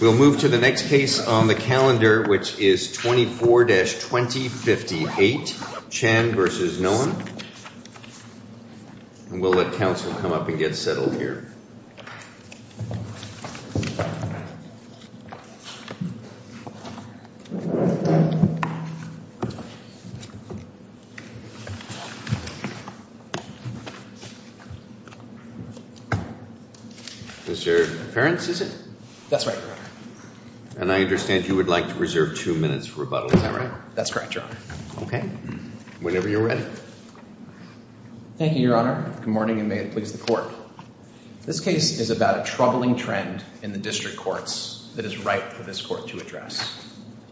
We'll move to the next case on the calendar, which is 24-2058, Chen v. Noem. And we'll let counsel come up and get settled here. Mr. Perkins, is it? That's right, Your Honor. And I understand you would like to reserve two minutes for rebuttal, is that right? That's correct, Your Honor. Okay. Whenever you're ready. Thank you, Your Honor. Good morning and may it please the Court. This case is about a troubling trend in the district courts that is ripe for this Court to address.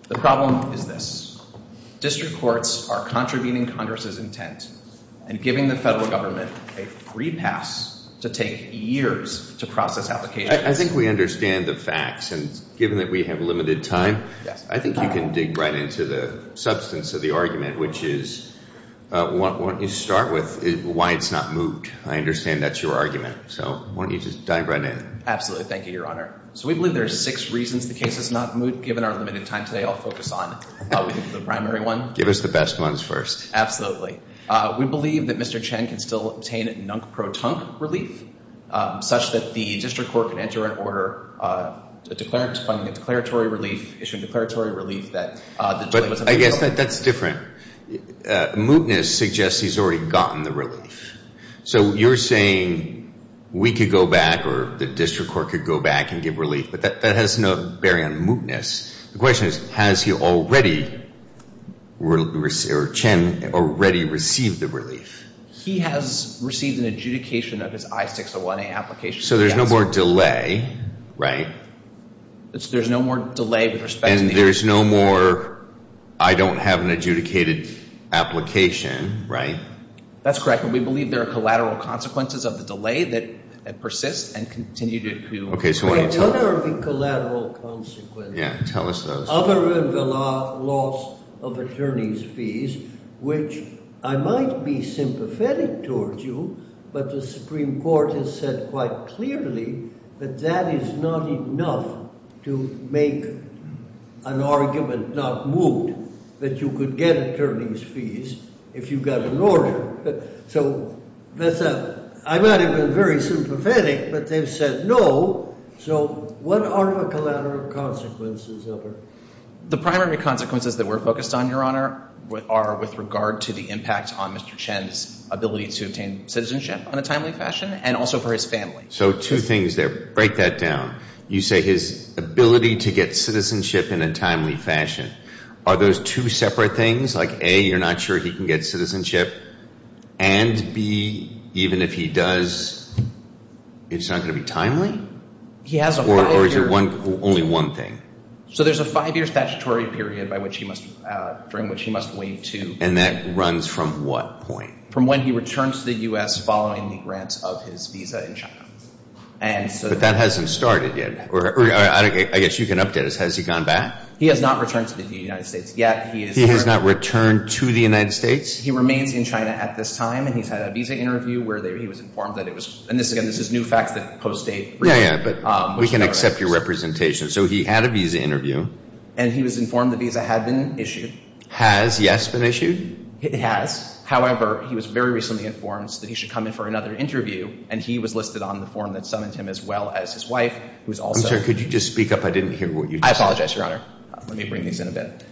The problem is this. District courts are contravening Congress's intent and giving the federal government a free pass to take years to process applications. I think we understand the facts, and given that we have limited time, I think you can dig right into the substance of the argument, which is, why don't you start with why it's not moot? I understand that's your argument. So why don't you just dive right in? Absolutely. Thank you, Your Honor. So we believe there are six reasons the case is not moot. Given our limited time today, I'll focus on the primary one. Give us the best ones first. Absolutely. We believe that Mr. Chen can still obtain nunk-pro-tunk relief, such that the district court can enter into an order to issue a declaratory relief. But I guess that's different. Mootness suggests he's already gotten the relief. So you're saying we could go back or the district court could go back and give relief, but that has no bearing on mootness. The question is, has he already, or Chen, already received the relief? He has received an adjudication of his I-601A application. So there's no more delay, right? There's no more delay with respect to the application. And there's no more, I don't have an adjudicated application, right? That's correct, but we believe there are collateral consequences of the delay that persist and continue to occur. What are the collateral consequences? Yeah, tell us those. Other than the loss of attorney's fees, which I might be sympathetic towards you, but the Supreme Court has said quite clearly that that is not enough to make an argument not moot, that you could get attorney's fees if you got an order. So I might have been very sympathetic, but they've said no. So what are the collateral consequences of it? The primary consequences that we're focused on, Your Honor, are with regard to the impact on Mr. Chen's ability to obtain citizenship in a timely fashion and also for his family. So two things there. Break that down. You say his ability to get citizenship in a timely fashion. Are those two separate things? Like, A, you're not sure he can get citizenship, and B, even if he does, it's not going to be timely? He has a five-year. Or is it only one thing? So there's a five-year statutory period during which he must wait to— And that runs from what point? From when he returns to the U.S. following the grant of his visa in China. But that hasn't started yet. I guess you can update us. Has he gone back? He has not returned to the United States yet. He has not returned to the United States? He remains in China at this time, and he's had a visa interview where he was informed that it was— and again, this is new facts that post-date— Yeah, yeah, but we can accept your representation. So he had a visa interview. And he was informed the visa had been issued. Has, yes, been issued? It has. However, he was very recently informed that he should come in for another interview, and he was listed on the form that summoned him as well as his wife, who is also— I'm sorry. Could you just speak up? I didn't hear what you just said. I apologize, Your Honor. Let me bring these in a bit.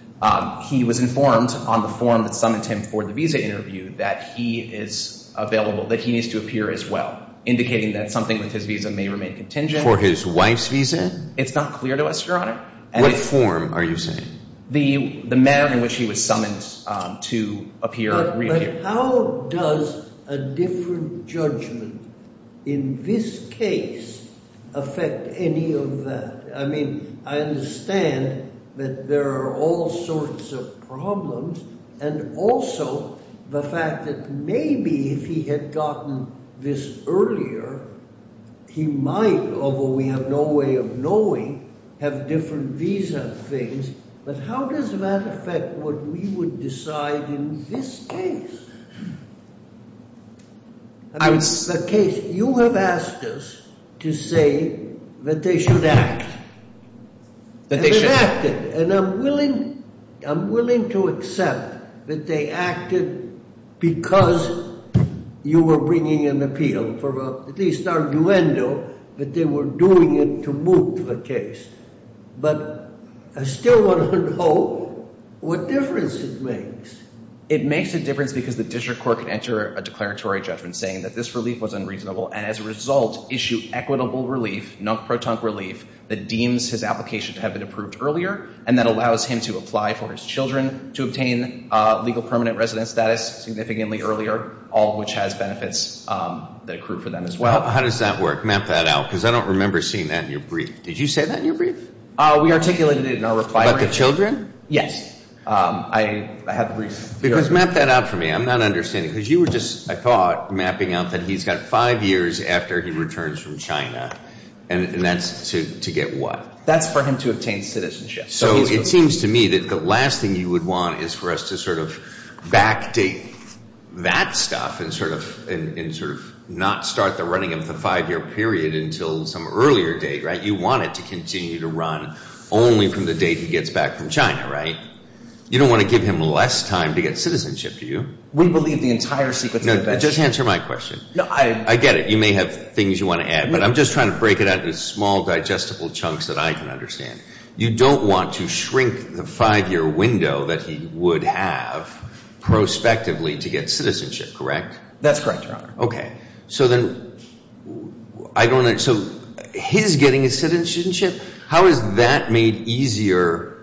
He was informed on the form that summoned him for the visa interview that he is available, that he needs to appear as well, indicating that something with his visa may remain contingent. For his wife's visa? It's not clear to us, Your Honor. What form are you saying? The manner in which he was summoned to appear or reappear. But how does a different judgment in this case affect any of that? I mean, I understand that there are all sorts of problems, and also the fact that maybe if he had gotten this earlier, he might, although we have no way of knowing, have different visa things. But how does that affect what we would decide in this case? I would say— In that case, you have asked us to say that they should act. That they should— They acted, and I'm willing to accept that they acted because you were bringing an appeal, at least an arguendo, that they were doing it to move the case. But I still want to know what difference it makes. It makes a difference because the district court can enter a declaratory judgment saying that this relief was unreasonable and as a result issue equitable relief, non-proton relief, that deems his application to have been approved earlier, and that allows him to apply for his children to obtain legal permanent residence status significantly earlier, all of which has benefits that accrue for them as well. How does that work? Map that out, because I don't remember seeing that in your brief. Did you say that in your brief? We articulated it in our reply brief. About the children? Yes. I had the brief. Because map that out for me. I'm not understanding. Because you were just, I thought, mapping out that he's got five years after he returns from China, and that's to get what? That's for him to obtain citizenship. So it seems to me that the last thing you would want is for us to sort of backdate that stuff and sort of not start the running of the five-year period until some earlier date, right? You want it to continue to run only from the date he gets back from China, right? You don't want to give him less time to get citizenship, do you? We believe the entire sequence of events. Just answer my question. I get it. You may have things you want to add, but I'm just trying to break it out into small digestible chunks that I can understand. You don't want to shrink the five-year window that he would have prospectively to get citizenship, correct? That's correct, Your Honor. Okay. So then I don't understand. So his getting his citizenship, how is that made easier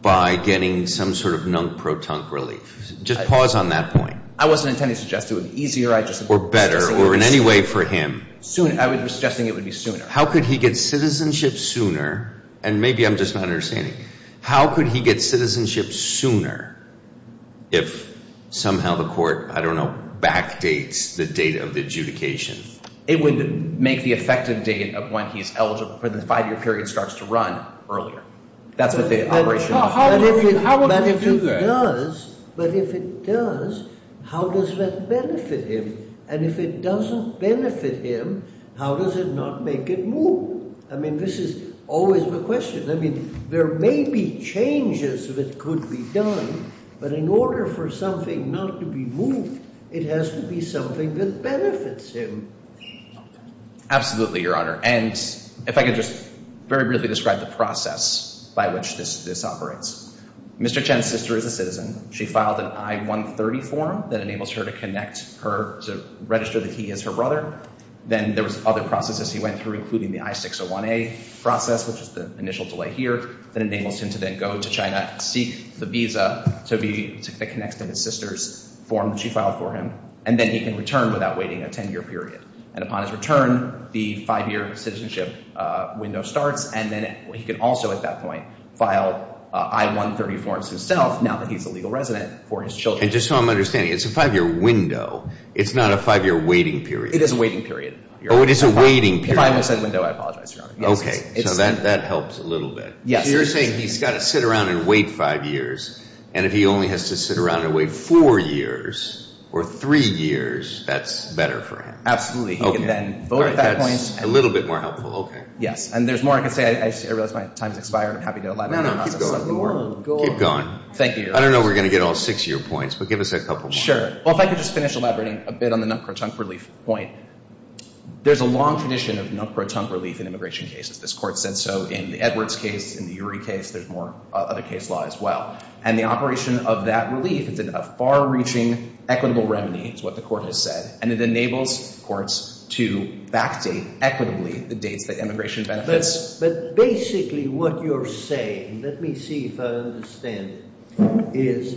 by getting some sort of non-proton relief? Just pause on that point. I wasn't intending to suggest it would be easier. Or better, or in any way for him. I was suggesting it would be sooner. How could he get citizenship sooner, and maybe I'm just not understanding, how could he get citizenship sooner if somehow the court, I don't know, backdates the date of the adjudication? It would make the effective date of when he's eligible for the five-year period starts to run earlier. But if it does, how does that benefit him? And if it doesn't benefit him, how does it not make it move? I mean, this is always the question. I mean, there may be changes that could be done, but in order for something not to be moved, it has to be something that benefits him. Absolutely, Your Honor. And if I could just very briefly describe the process by which this operates. Mr. Chen's sister is a citizen. She filed an I-130 form that enables her to register that he is her brother. Then there was other processes he went through, including the I-601A process, which is the initial delay here, that enables him to then go to China, seek the visa that connects to his sister's form that she filed for him, and then he can return without waiting a 10-year period. And upon his return, the five-year citizenship window starts, and then he can also at that point file I-130 forms himself now that he's a legal resident for his children. And just so I'm understanding, it's a five-year window. It's not a five-year waiting period. It is a waiting period. Oh, it is a waiting period. If I miss that window, I apologize, Your Honor. Okay, so that helps a little bit. So you're saying he's got to sit around and wait five years, and if he only has to sit around and wait four years or three years, that's better for him? Absolutely. Okay. He can then vote at that point. All right, that's a little bit more helpful. Okay. Yes, and there's more I can say. I realize my time has expired. I'm happy to elaborate on the process. Keep going. Thank you, Your Honor. I don't know if we're going to get all six of your points, but give us a couple more. Sure. Well, if I could just finish elaborating a bit on the nut-crow-tunk relief point. There's a long tradition of nut-crow-tunk relief in immigration cases. This Court said so in the Edwards case, in the Urey case. There's more other case law as well. And the operation of that relief is a far-reaching equitable remedy is what the Court has said, and it enables courts to backdate equitably the dates that immigration benefits. But basically what you're saying, let me see if I understand it, is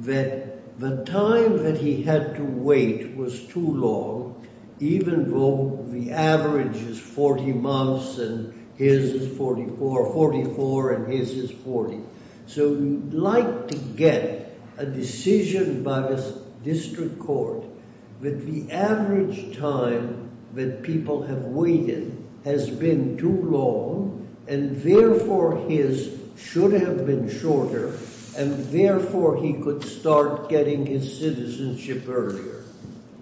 that the time that he had to wait was too long, even though the average is 40 months and his is 44, 44 and his is 40. So you'd like to get a decision by the district court that the average time that people have waited has been too long, and therefore his should have been shorter, and therefore he could start getting his citizenship earlier.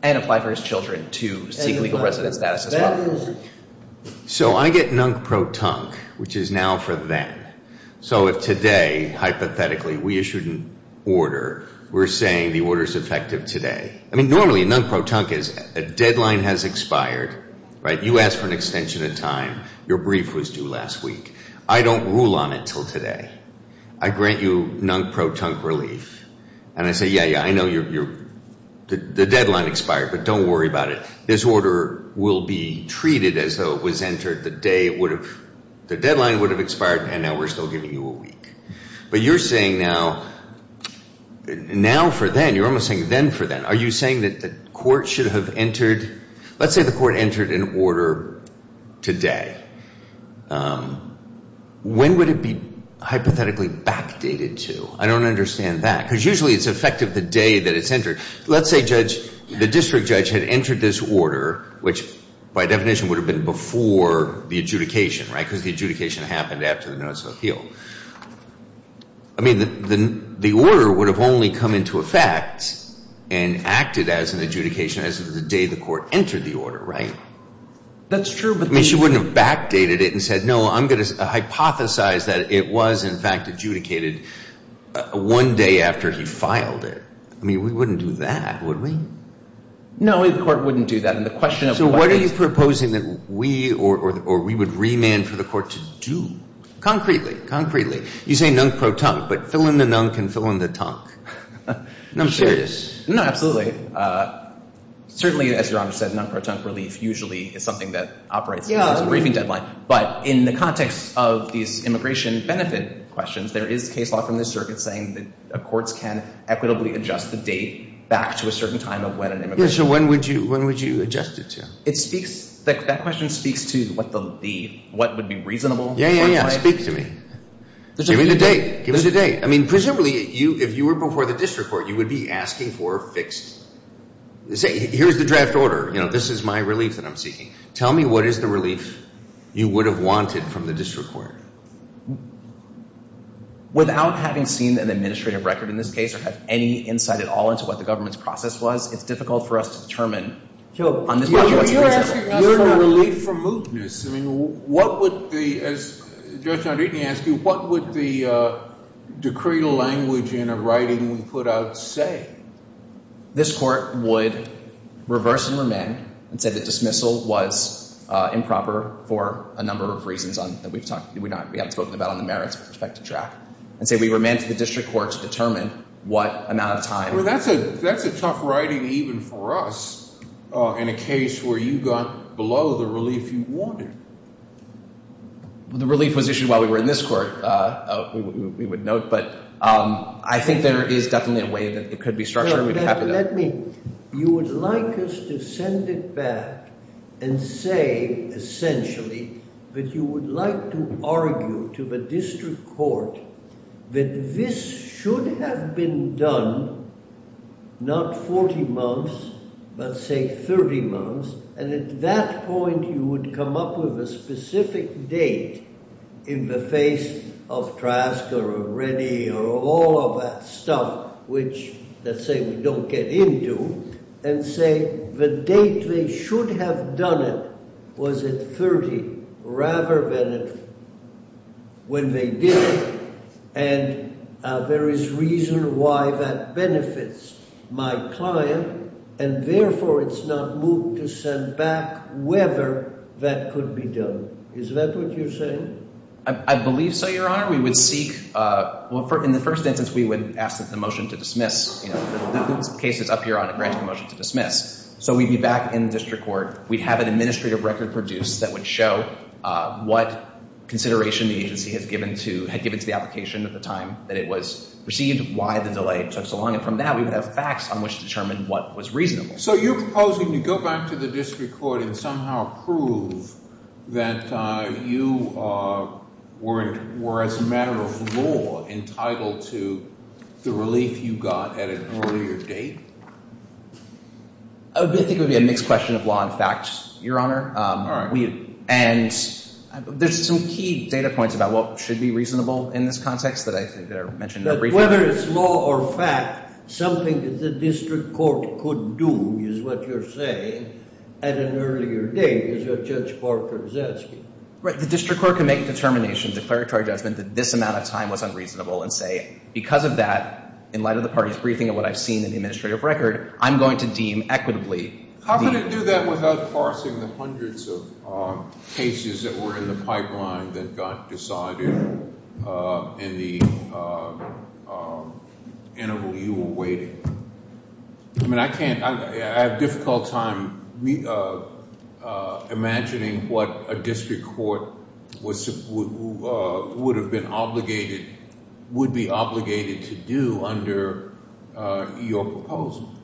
And apply for his children to seek legal residence status as well. So I get nut-crow-tunk, which is now for them. So if today, hypothetically, we issued an order, we're saying the order is effective today. I mean, normally nut-crow-tunk is a deadline has expired, right? You asked for an extension of time. Your brief was due last week. I don't rule on it until today. I grant you nut-crow-tunk relief. And I say, yeah, yeah, I know the deadline expired, but don't worry about it. This order will be treated as though it was entered the day it would have, the deadline would have expired, and now we're still giving you a week. But you're saying now, now for then, you're almost saying then for then. Are you saying that the court should have entered, let's say the court entered an order today. When would it be hypothetically backdated to? I don't understand that. Because usually it's effective the day that it's entered. Let's say, Judge, the district judge had entered this order, which by definition would have been before the adjudication, right? Because the adjudication happened after the notice of appeal. I mean, the order would have only come into effect and acted as an adjudication as of the day the court entered the order, right? That's true. I mean, she wouldn't have backdated it and said, no, I'm going to hypothesize that it was, in fact, adjudicated one day after he filed it. I mean, we wouldn't do that, would we? No, the court wouldn't do that. So what are you proposing that we or we would remand for the court to do? Concretely, concretely, you say nunk pro-tunk, but fill in the nunk and fill in the tunk. I'm serious. No, absolutely. Certainly, as Your Honor said, nunk pro-tunk relief usually is something that operates as a briefing deadline. But in the context of these immigration benefit questions, there is case law from the circuit saying that courts can equitably adjust the date back to a certain time of when an immigration benefit. Yeah, so when would you adjust it to? That question speaks to what would be reasonable. Yeah, yeah, yeah, speak to me. Give me the date. Give us the date. I mean, presumably, if you were before the district court, you would be asking for fixed. Say, here's the draft order. You know, this is my relief that I'm seeking. Tell me what is the relief you would have wanted from the district court. Without having seen an administrative record in this case or have any insight at all into what the government's process was, it's difficult for us to determine. You're asking us for relief from mootness. I mean, what would the, as Judge John Deaton asked you, what would the decreed language in a writing we put out say? This court would reverse and remand and say that dismissal was improper for a number of reasons that we haven't spoken about on the merits perspective track and say we remand to the district court to determine what amount of time. Well, that's a tough writing even for us in a case where you got below the relief you wanted. The relief was issued while we were in this court, we would note. But I think there is definitely a way that it could be structured. You would like us to send it back and say, essentially, that you would like to argue to the district court that this should have been done, not 40 months, but say 30 months, and at that point you would come up with a specific date in the face of Triasca or Reddy or all of that stuff, which let's say we don't get into, and say the date they should have done it was at 30 rather than when they did it. And there is reason why that benefits my client. And therefore, it's not moot to send back whether that could be done. Is that what you're saying? I believe so, Your Honor. In the first instance, we would ask for the motion to dismiss. The case is up here on a granting motion to dismiss. So we'd be back in the district court. We'd have an administrative record produced that would show what consideration the agency had given to the application at the time that it was received, why the delay took so long, and from that we would have facts on which to determine what was reasonable. So you're proposing to go back to the district court and somehow prove that you were, as a matter of law, entitled to the relief you got at an earlier date? I think it would be a mixed question of law and facts, Your Honor. All right. And there's some key data points about what should be reasonable in this context that I think are mentioned in the brief. Whether it's law or fact, something that the district court could do is what you're saying at an earlier date, is what Judge Parker is asking. Right. The district court can make a determination, declaratory judgment, that this amount of time was unreasonable and say, because of that, in light of the party's briefing and what I've seen in the administrative record, I'm going to deem equitably. How could it do that without parsing the hundreds of cases that were in the pipeline that got decided in the interval you were waiting? I mean, I can't – I have a difficult time imagining what a district court would have been obligated – would be obligated to do under your proposal.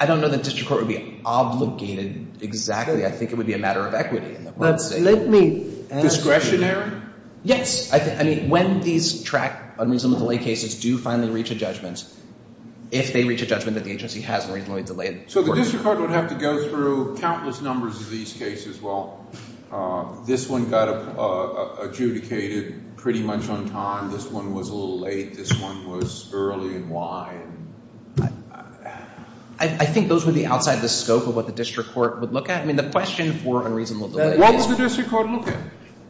I don't know that district court would be obligated exactly. I think it would be a matter of equity. Let me ask you. Discretionary? Yes. I mean, when these track unreasonably delayed cases do finally reach a judgment, if they reach a judgment that the agency has unreasonably delayed – So the district court would have to go through countless numbers of these cases. Well, this one got adjudicated pretty much on time. This one was a little late. This one was early. And why? I think those would be outside the scope of what the district court would look at. I mean, the question for unreasonable delay is – What would the district court look at?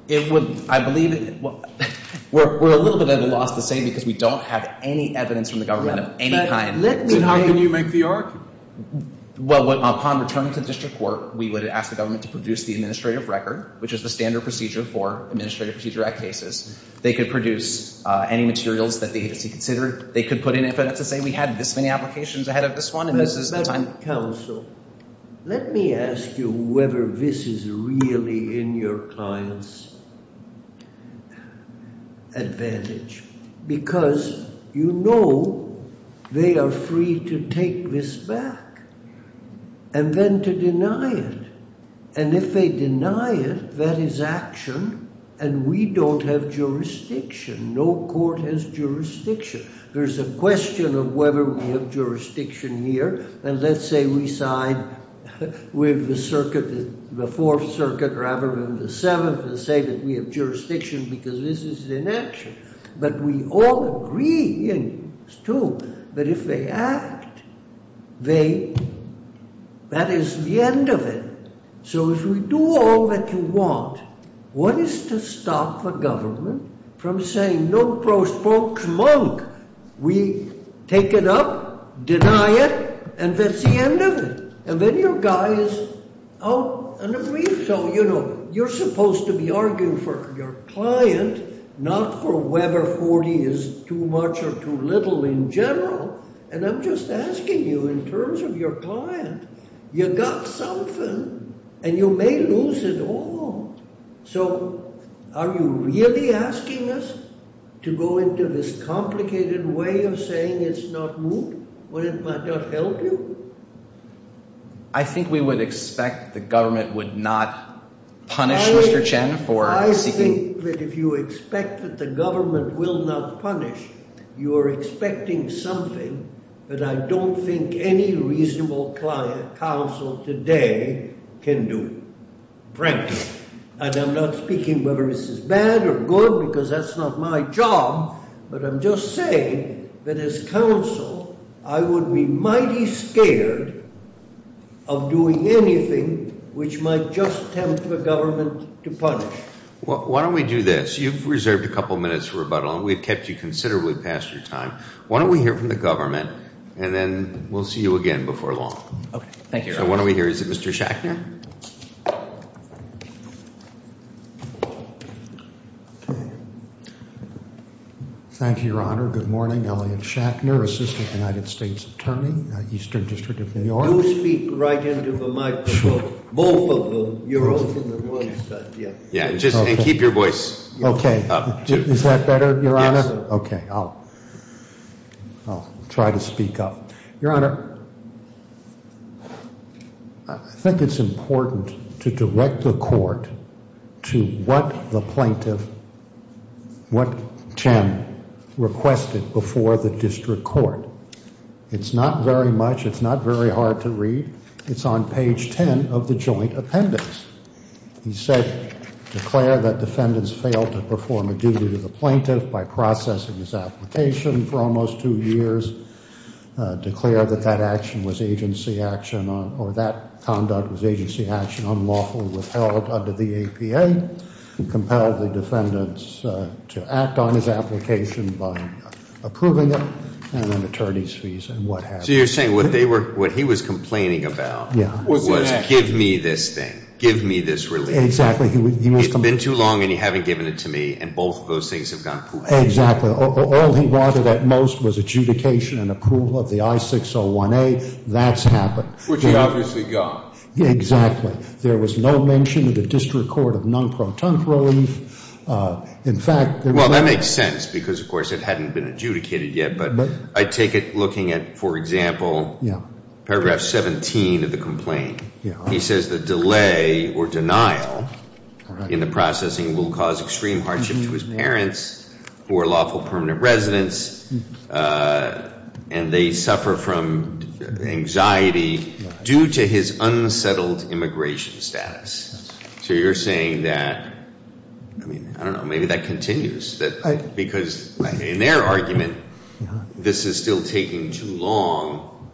It would – I believe – we're a little bit at a loss to say because we don't have any evidence from the government of any kind. Then how can you make the argument? Well, upon return to the district court, we would ask the government to produce the administrative record, which is the standard procedure for administrative procedure at cases. They could produce any materials that the agency considered. They could put in evidence to say we had this many applications ahead of this one, and this is the time – Let me ask you whether this is really in your client's advantage because you know they are free to take this back and then to deny it. And if they deny it, that is action, and we don't have jurisdiction. No court has jurisdiction. There's a question of whether we have jurisdiction here, and let's say we side with the circuit, the Fourth Circuit rather than the Seventh, and say that we have jurisdiction because this is inaction. But we all agree, and it's true, that if they act, they – that is the end of it. So, if we do all that you want, what is to stop the government from saying no prospoke monk? We take it up, deny it, and that's the end of it. And then your guy is out and agrees. So, you know, you're supposed to be arguing for your client, not for whether 40 is too much or too little in general. And I'm just asking you in terms of your client. You got something, and you may lose it all. So, are you really asking us to go into this complicated way of saying it's not moot when it might not help you? I think we would expect the government would not punish Mr. Chen for seeking – I think that if you expect that the government will not punish, you are expecting something that I don't think any reasonable counsel today can do, frankly. And I'm not speaking whether this is bad or good because that's not my job, but I'm just saying that as counsel, I would be mighty scared of doing anything which might just tempt the government to punish. Why don't we do this? You've reserved a couple minutes for rebuttal, and we've kept you considerably past your time. Why don't we hear from the government, and then we'll see you again before long. Okay. Thank you, Your Honor. So why don't we hear – is it Mr. Schackner? Thank you, Your Honor. Good morning. Elliot Schackner, Assistant United States Attorney, Eastern District of New York. Do speak right into the microphone. Sure. Both of them. Yeah, just keep your voice up. Okay. Is that better, Your Honor? Yes, sir. Okay. I'll try to speak up. Your Honor, I think it's important to direct the court to what the plaintiff – what Chen requested before the district court. It's not very much. It's not very hard to read. It's on page 10 of the joint appendix. He said, declare that defendants failed to perform a duty to the plaintiff by processing his application for almost two years. Declare that that action was agency action or that conduct was agency action, unlawful, withheld under the APA. Compelled the defendants to act on his application by approving it and then attorney's fees and what have you. So you're saying what they were – what he was complaining about was give me this thing. Give me this relief. Exactly. It's been too long and you haven't given it to me and both of those things have gone poofy. Exactly. All he wanted at most was adjudication and approval of the I-601A. That's happened. Which he obviously got. Exactly. There was no mention in the district court of non-protocol. In fact – Well, that makes sense because, of course, it hadn't been adjudicated yet, but I take it looking at, for example, paragraph 17 of the complaint. He says the delay or denial in the processing will cause extreme hardship to his parents who are lawful permanent residents and they suffer from anxiety due to his unsettled immigration status. So you're saying that – I mean, I don't know, maybe that continues because in their argument this is still taking too long.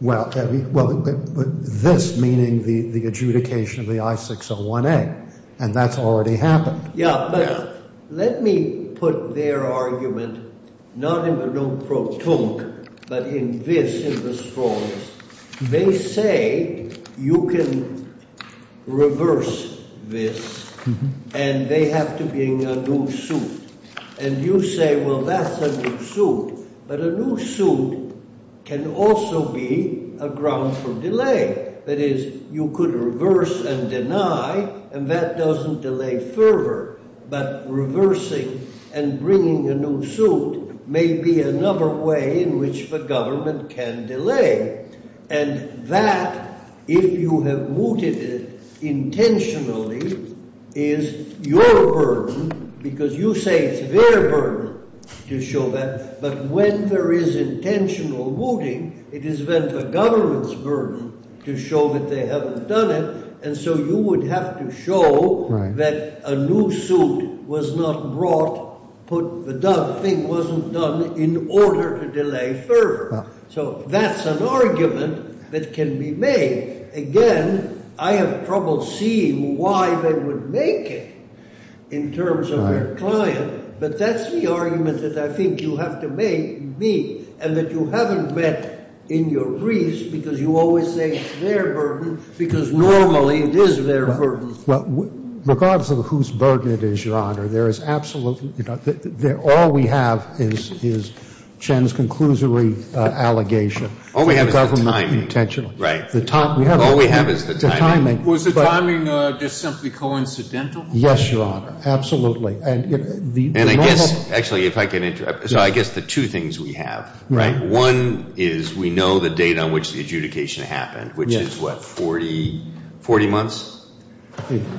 Well, this meaning the adjudication of the I-601A and that's already happened. Yeah, but let me put their argument not in the non-protocol but in this in the strongest. They say you can reverse this and they have to bring a new suit. And you say, well, that's a new suit. But a new suit can also be a ground for delay. That is, you could reverse and deny and that doesn't delay further, but reversing and bringing a new suit may be another way in which the government can delay. And that, if you have mooted it intentionally, is your burden because you say it's their burden to show that. But when there is intentional mooting, it is then the government's burden to show that they haven't done it. And so you would have to show that a new suit was not brought, the thing wasn't done in order to delay further. So that's an argument that can be made. Again, I have trouble seeing why they would make it in terms of their client. But that's the argument that I think you have to make, me, and that you haven't met in your briefs because you always say it's their burden because normally it is their burden. Well, regardless of whose burden it is, Your Honor, there is absolutely – all we have is Chen's conclusory allegation. All we have is intent. All we have is the timing. Was the timing just simply coincidental? Yes, Your Honor. Absolutely. And I guess – actually, if I can interrupt. So I guess the two things we have, right? One is we know the date on which the adjudication happened, which is what, 40 months?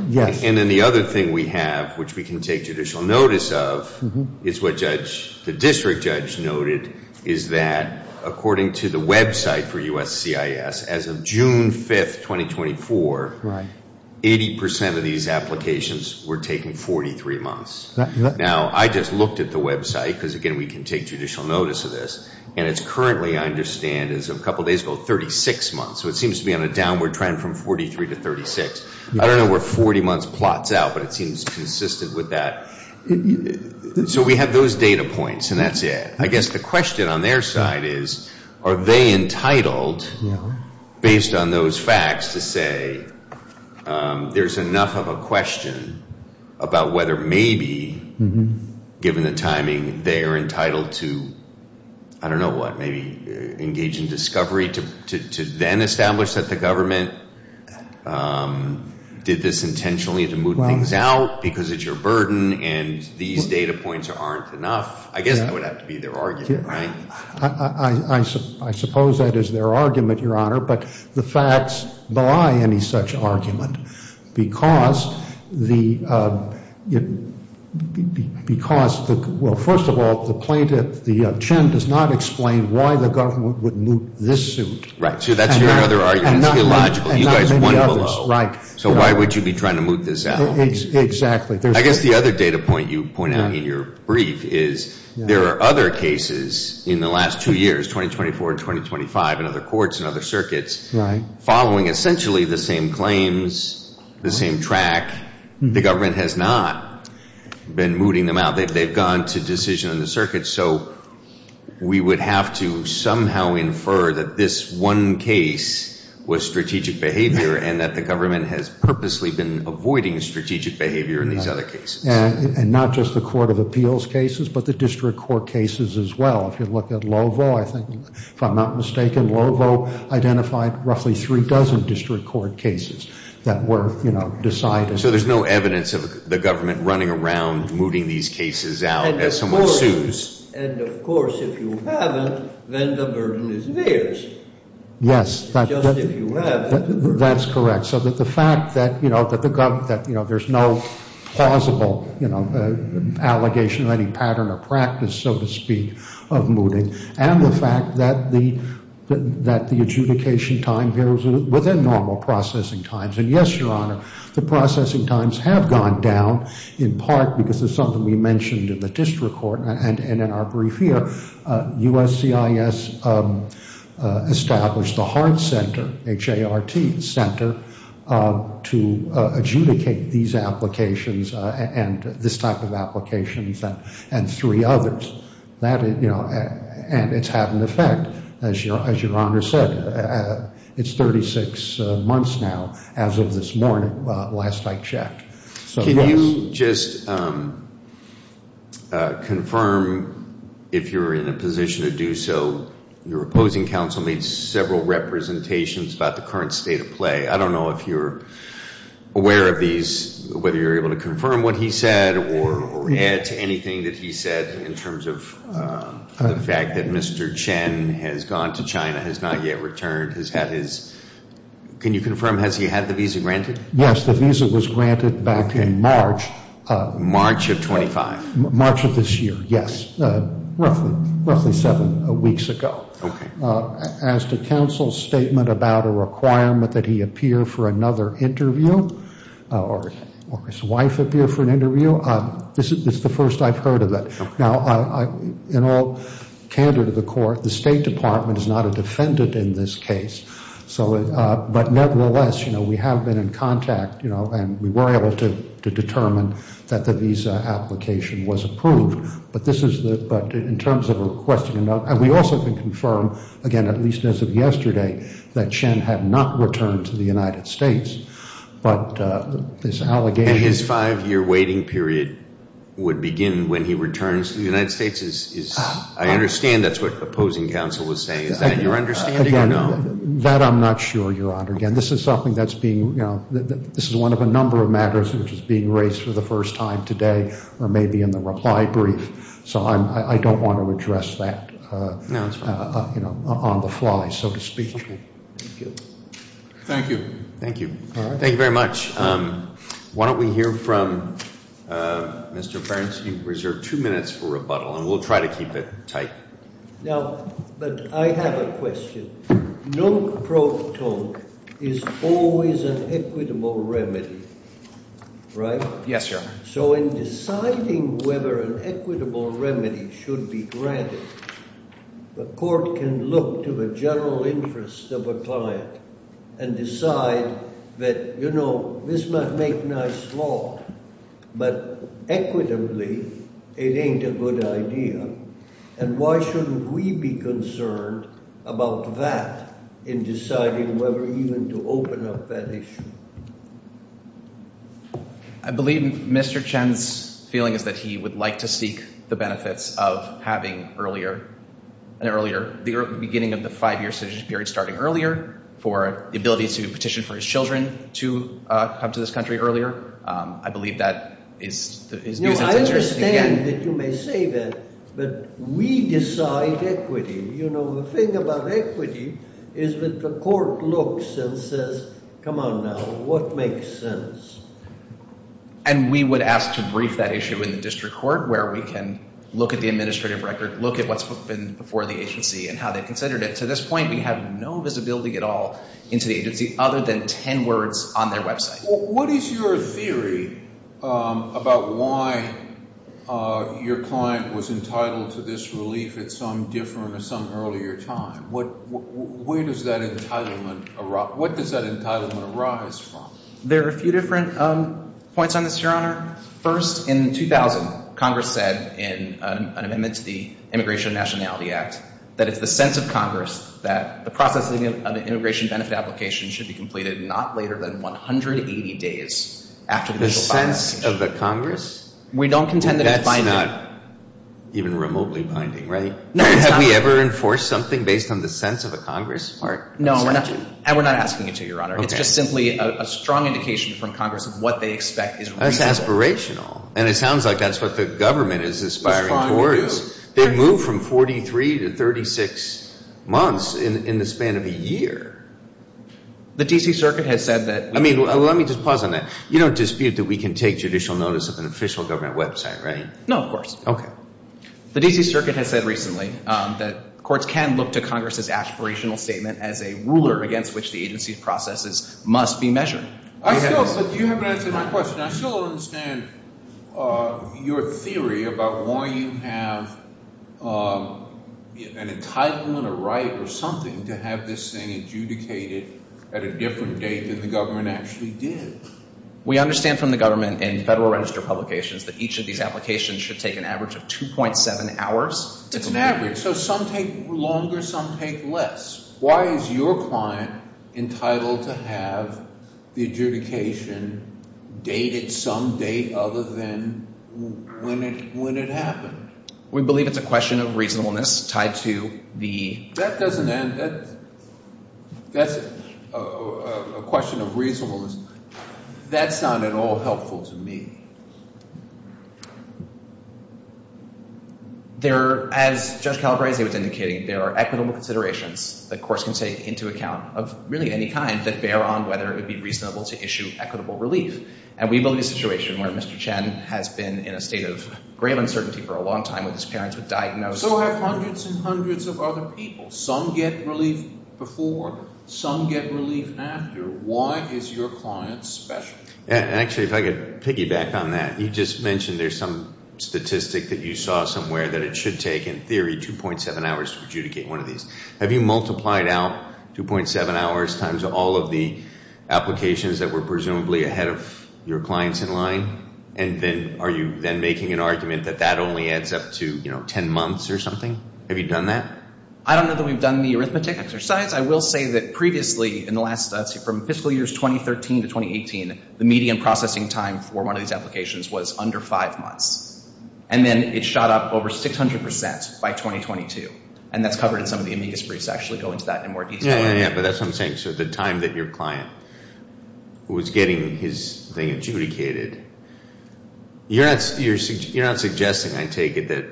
Yes. And then the other thing we have, which we can take judicial notice of, is what the district judge noted, is that according to the website for USCIS, as of June 5, 2024, 80% of these applications were taking 43 months. Now, I just looked at the website because, again, we can take judicial notice of this, and it's currently, I understand, as of a couple days ago, 36 months. So it seems to be on a downward trend from 43 to 36. I don't know where 40 months plots out, but it seems consistent with that. So we have those data points, and that's it. I guess the question on their side is, are they entitled, based on those facts, to say there's enough of a question about whether maybe, given the timing, they're entitled to, I don't know what, maybe engage in discovery to then establish that the government did this intentionally to move things out because it's your burden and these data points aren't enough? I guess that would have to be their argument, right? I suppose that is their argument, Your Honor. But the facts belie any such argument because, well, first of all, the plaintiff, the chin, does not explain why the government would move this suit. Right. So that's your other argument. It's illogical. You guys won below. Right. So why would you be trying to move this out? Exactly. I guess the other data point you point out in your brief is there are other cases in the last two years, 2024 and 2025, in other courts and other circuits, following essentially the same claims, the same track. The government has not been moving them out. They've gone to decision in the circuit. So we would have to somehow infer that this one case was strategic behavior and that the government has purposely been avoiding strategic behavior in these other cases. And not just the court of appeals cases but the district court cases as well. If you look at Lovo, I think, if I'm not mistaken, Lovo identified roughly three dozen district court cases that were decided. So there's no evidence of the government running around moving these cases out as someone sues. And, of course, if you haven't, then the burden is theirs. Yes. Just if you have. That's correct. So the fact that there's no plausible allegation of any pattern or practice, so to speak, of moving and the fact that the adjudication time here was within normal processing times. And, yes, Your Honor, the processing times have gone down in part because of something we mentioned in the district court. And in our brief here, USCIS established the Hart Center, H-A-R-T Center, to adjudicate these applications and this type of applications and three others. And it's had an effect, as Your Honor said. It's 36 months now as of this morning, last I checked. Can you just confirm if you're in a position to do so? Your opposing counsel made several representations about the current state of play. I don't know if you're aware of these, whether you're able to confirm what he said or add to anything that he said in terms of the fact that Mr. Chen has gone to China, has not yet returned, has had his, can you confirm, has he had the visa granted? Yes, the visa was granted back in March. March of 25? March of this year, yes. Roughly seven weeks ago. As to counsel's statement about a requirement that he appear for another interview or his wife appear for an interview, this is the first I've heard of it. Now, in all candor to the court, the State Department is not a defendant in this case. But nevertheless, you know, we have been in contact, you know, and we were able to determine that the visa application was approved. But this is the, but in terms of requesting, and we also can confirm, again, at least as of yesterday, that Chen had not returned to the United States, but this allegation. And his five-year waiting period would begin when he returns to the United States? I understand that's what opposing counsel was saying. Is that your understanding or no? That I'm not sure, Your Honor. Again, this is something that's being, you know, this is one of a number of matters which is being raised for the first time today or maybe in the reply brief. So I don't want to address that on the fly, so to speak. Thank you. Thank you. Thank you very much. Why don't we hear from Mr. Burns. You've reserved two minutes for rebuttal, and we'll try to keep it tight. Now, but I have a question. Nunc pro tonc is always an equitable remedy, right? Yes, Your Honor. So in deciding whether an equitable remedy should be granted, the court can look to the general interest of a client and decide that, you know, this might make nice law, but equitably it ain't a good idea. And why shouldn't we be concerned about that in deciding whether even to open up that issue? I believe Mr. Chen's feeling is that he would like to seek the benefits of having earlier and earlier the beginning of the five-year citizenship period starting earlier for the ability to petition for his children to come to this country earlier. I believe that is his view. I understand that you may say that, but we decide equity. You know, the thing about equity is that the court looks and says, come on now, what makes sense? And we would ask to brief that issue in the district court where we can look at the administrative record, look at what's been before the agency and how they've considered it. To this point, we have no visibility at all into the agency other than ten words on their website. What is your theory about why your client was entitled to this relief at some different or some earlier time? Where does that entitlement arise from? There are a few different points on this, Your Honor. First, in 2000, Congress said in an amendment to the Immigration and Nationality Act that it's the sense of Congress that the processing of an immigration benefit application should be completed not later than 180 days after the initial filing. The sense of the Congress? We don't contend that it's binding. It's not even remotely binding, right? No, it's not. Have we ever enforced something based on the sense of a Congress part? No, we're not. And we're not asking you to, Your Honor. Okay. It's just simply a strong indication from Congress of what they expect is reasonable. That's aspirational. And it sounds like that's what the government is aspiring towards. They've moved from 43 to 36 months in the span of a year. The D.C. Circuit has said that – I mean, let me just pause on that. You don't dispute that we can take judicial notice of an official government website, right? No, of course. Okay. The D.C. Circuit has said recently that courts can look to Congress's aspirational statement as a ruler against which the agency's processes must be measured. I still – but you haven't answered my question. I still don't understand your theory about why you have an entitlement or right or something to have this thing adjudicated at a different date than the government actually did. We understand from the government and Federal Register publications that each of these applications should take an average of 2.7 hours to complete. It's an average. So some take longer. Some take less. Why is your client entitled to have the adjudication dated some date other than when it happened? We believe it's a question of reasonableness tied to the – That doesn't – that's a question of reasonableness. That's not at all helpful to me. There – as Judge Calabrese was indicating, there are equitable considerations that courts can take into account of really any kind that bear on whether it would be reasonable to issue equitable relief. And we believe a situation where Mr. Chen has been in a state of grave uncertainty for a long time with his parents, with diagnosis – So have hundreds and hundreds of other people. Some get relief before. Some get relief after. Why is your client special? Actually, if I could piggyback on that. You just mentioned there's some statistic that you saw somewhere that it should take, in theory, 2.7 hours to adjudicate one of these. Have you multiplied out 2.7 hours times all of the applications that were presumably ahead of your clients in line? And then are you then making an argument that that only adds up to, you know, 10 months or something? Have you done that? I don't know that we've done the arithmetic exercise. I will say that previously in the last – from fiscal years 2013 to 2018, the median processing time for one of these applications was under five months. And then it shot up over 600 percent by 2022. And that's covered in some of the amicus briefs that actually go into that in more detail. Yeah, yeah, yeah. But that's what I'm saying. So the time that your client was getting his thing adjudicated – You're not suggesting, I take it, that,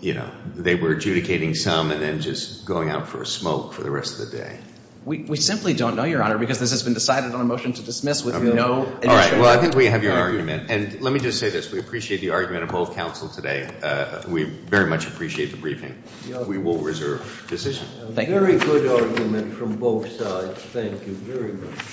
you know, they were adjudicating some and then just going out for a smoke for the rest of the day? We simply don't know, Your Honor, because this has been decided on a motion to dismiss with no initial – All right. Well, I think we have your argument. And let me just say this. We appreciate the argument of both counsel today. We very much appreciate the briefing. We will reserve decision. Thank you. Very good argument from both sides. Thank you very much.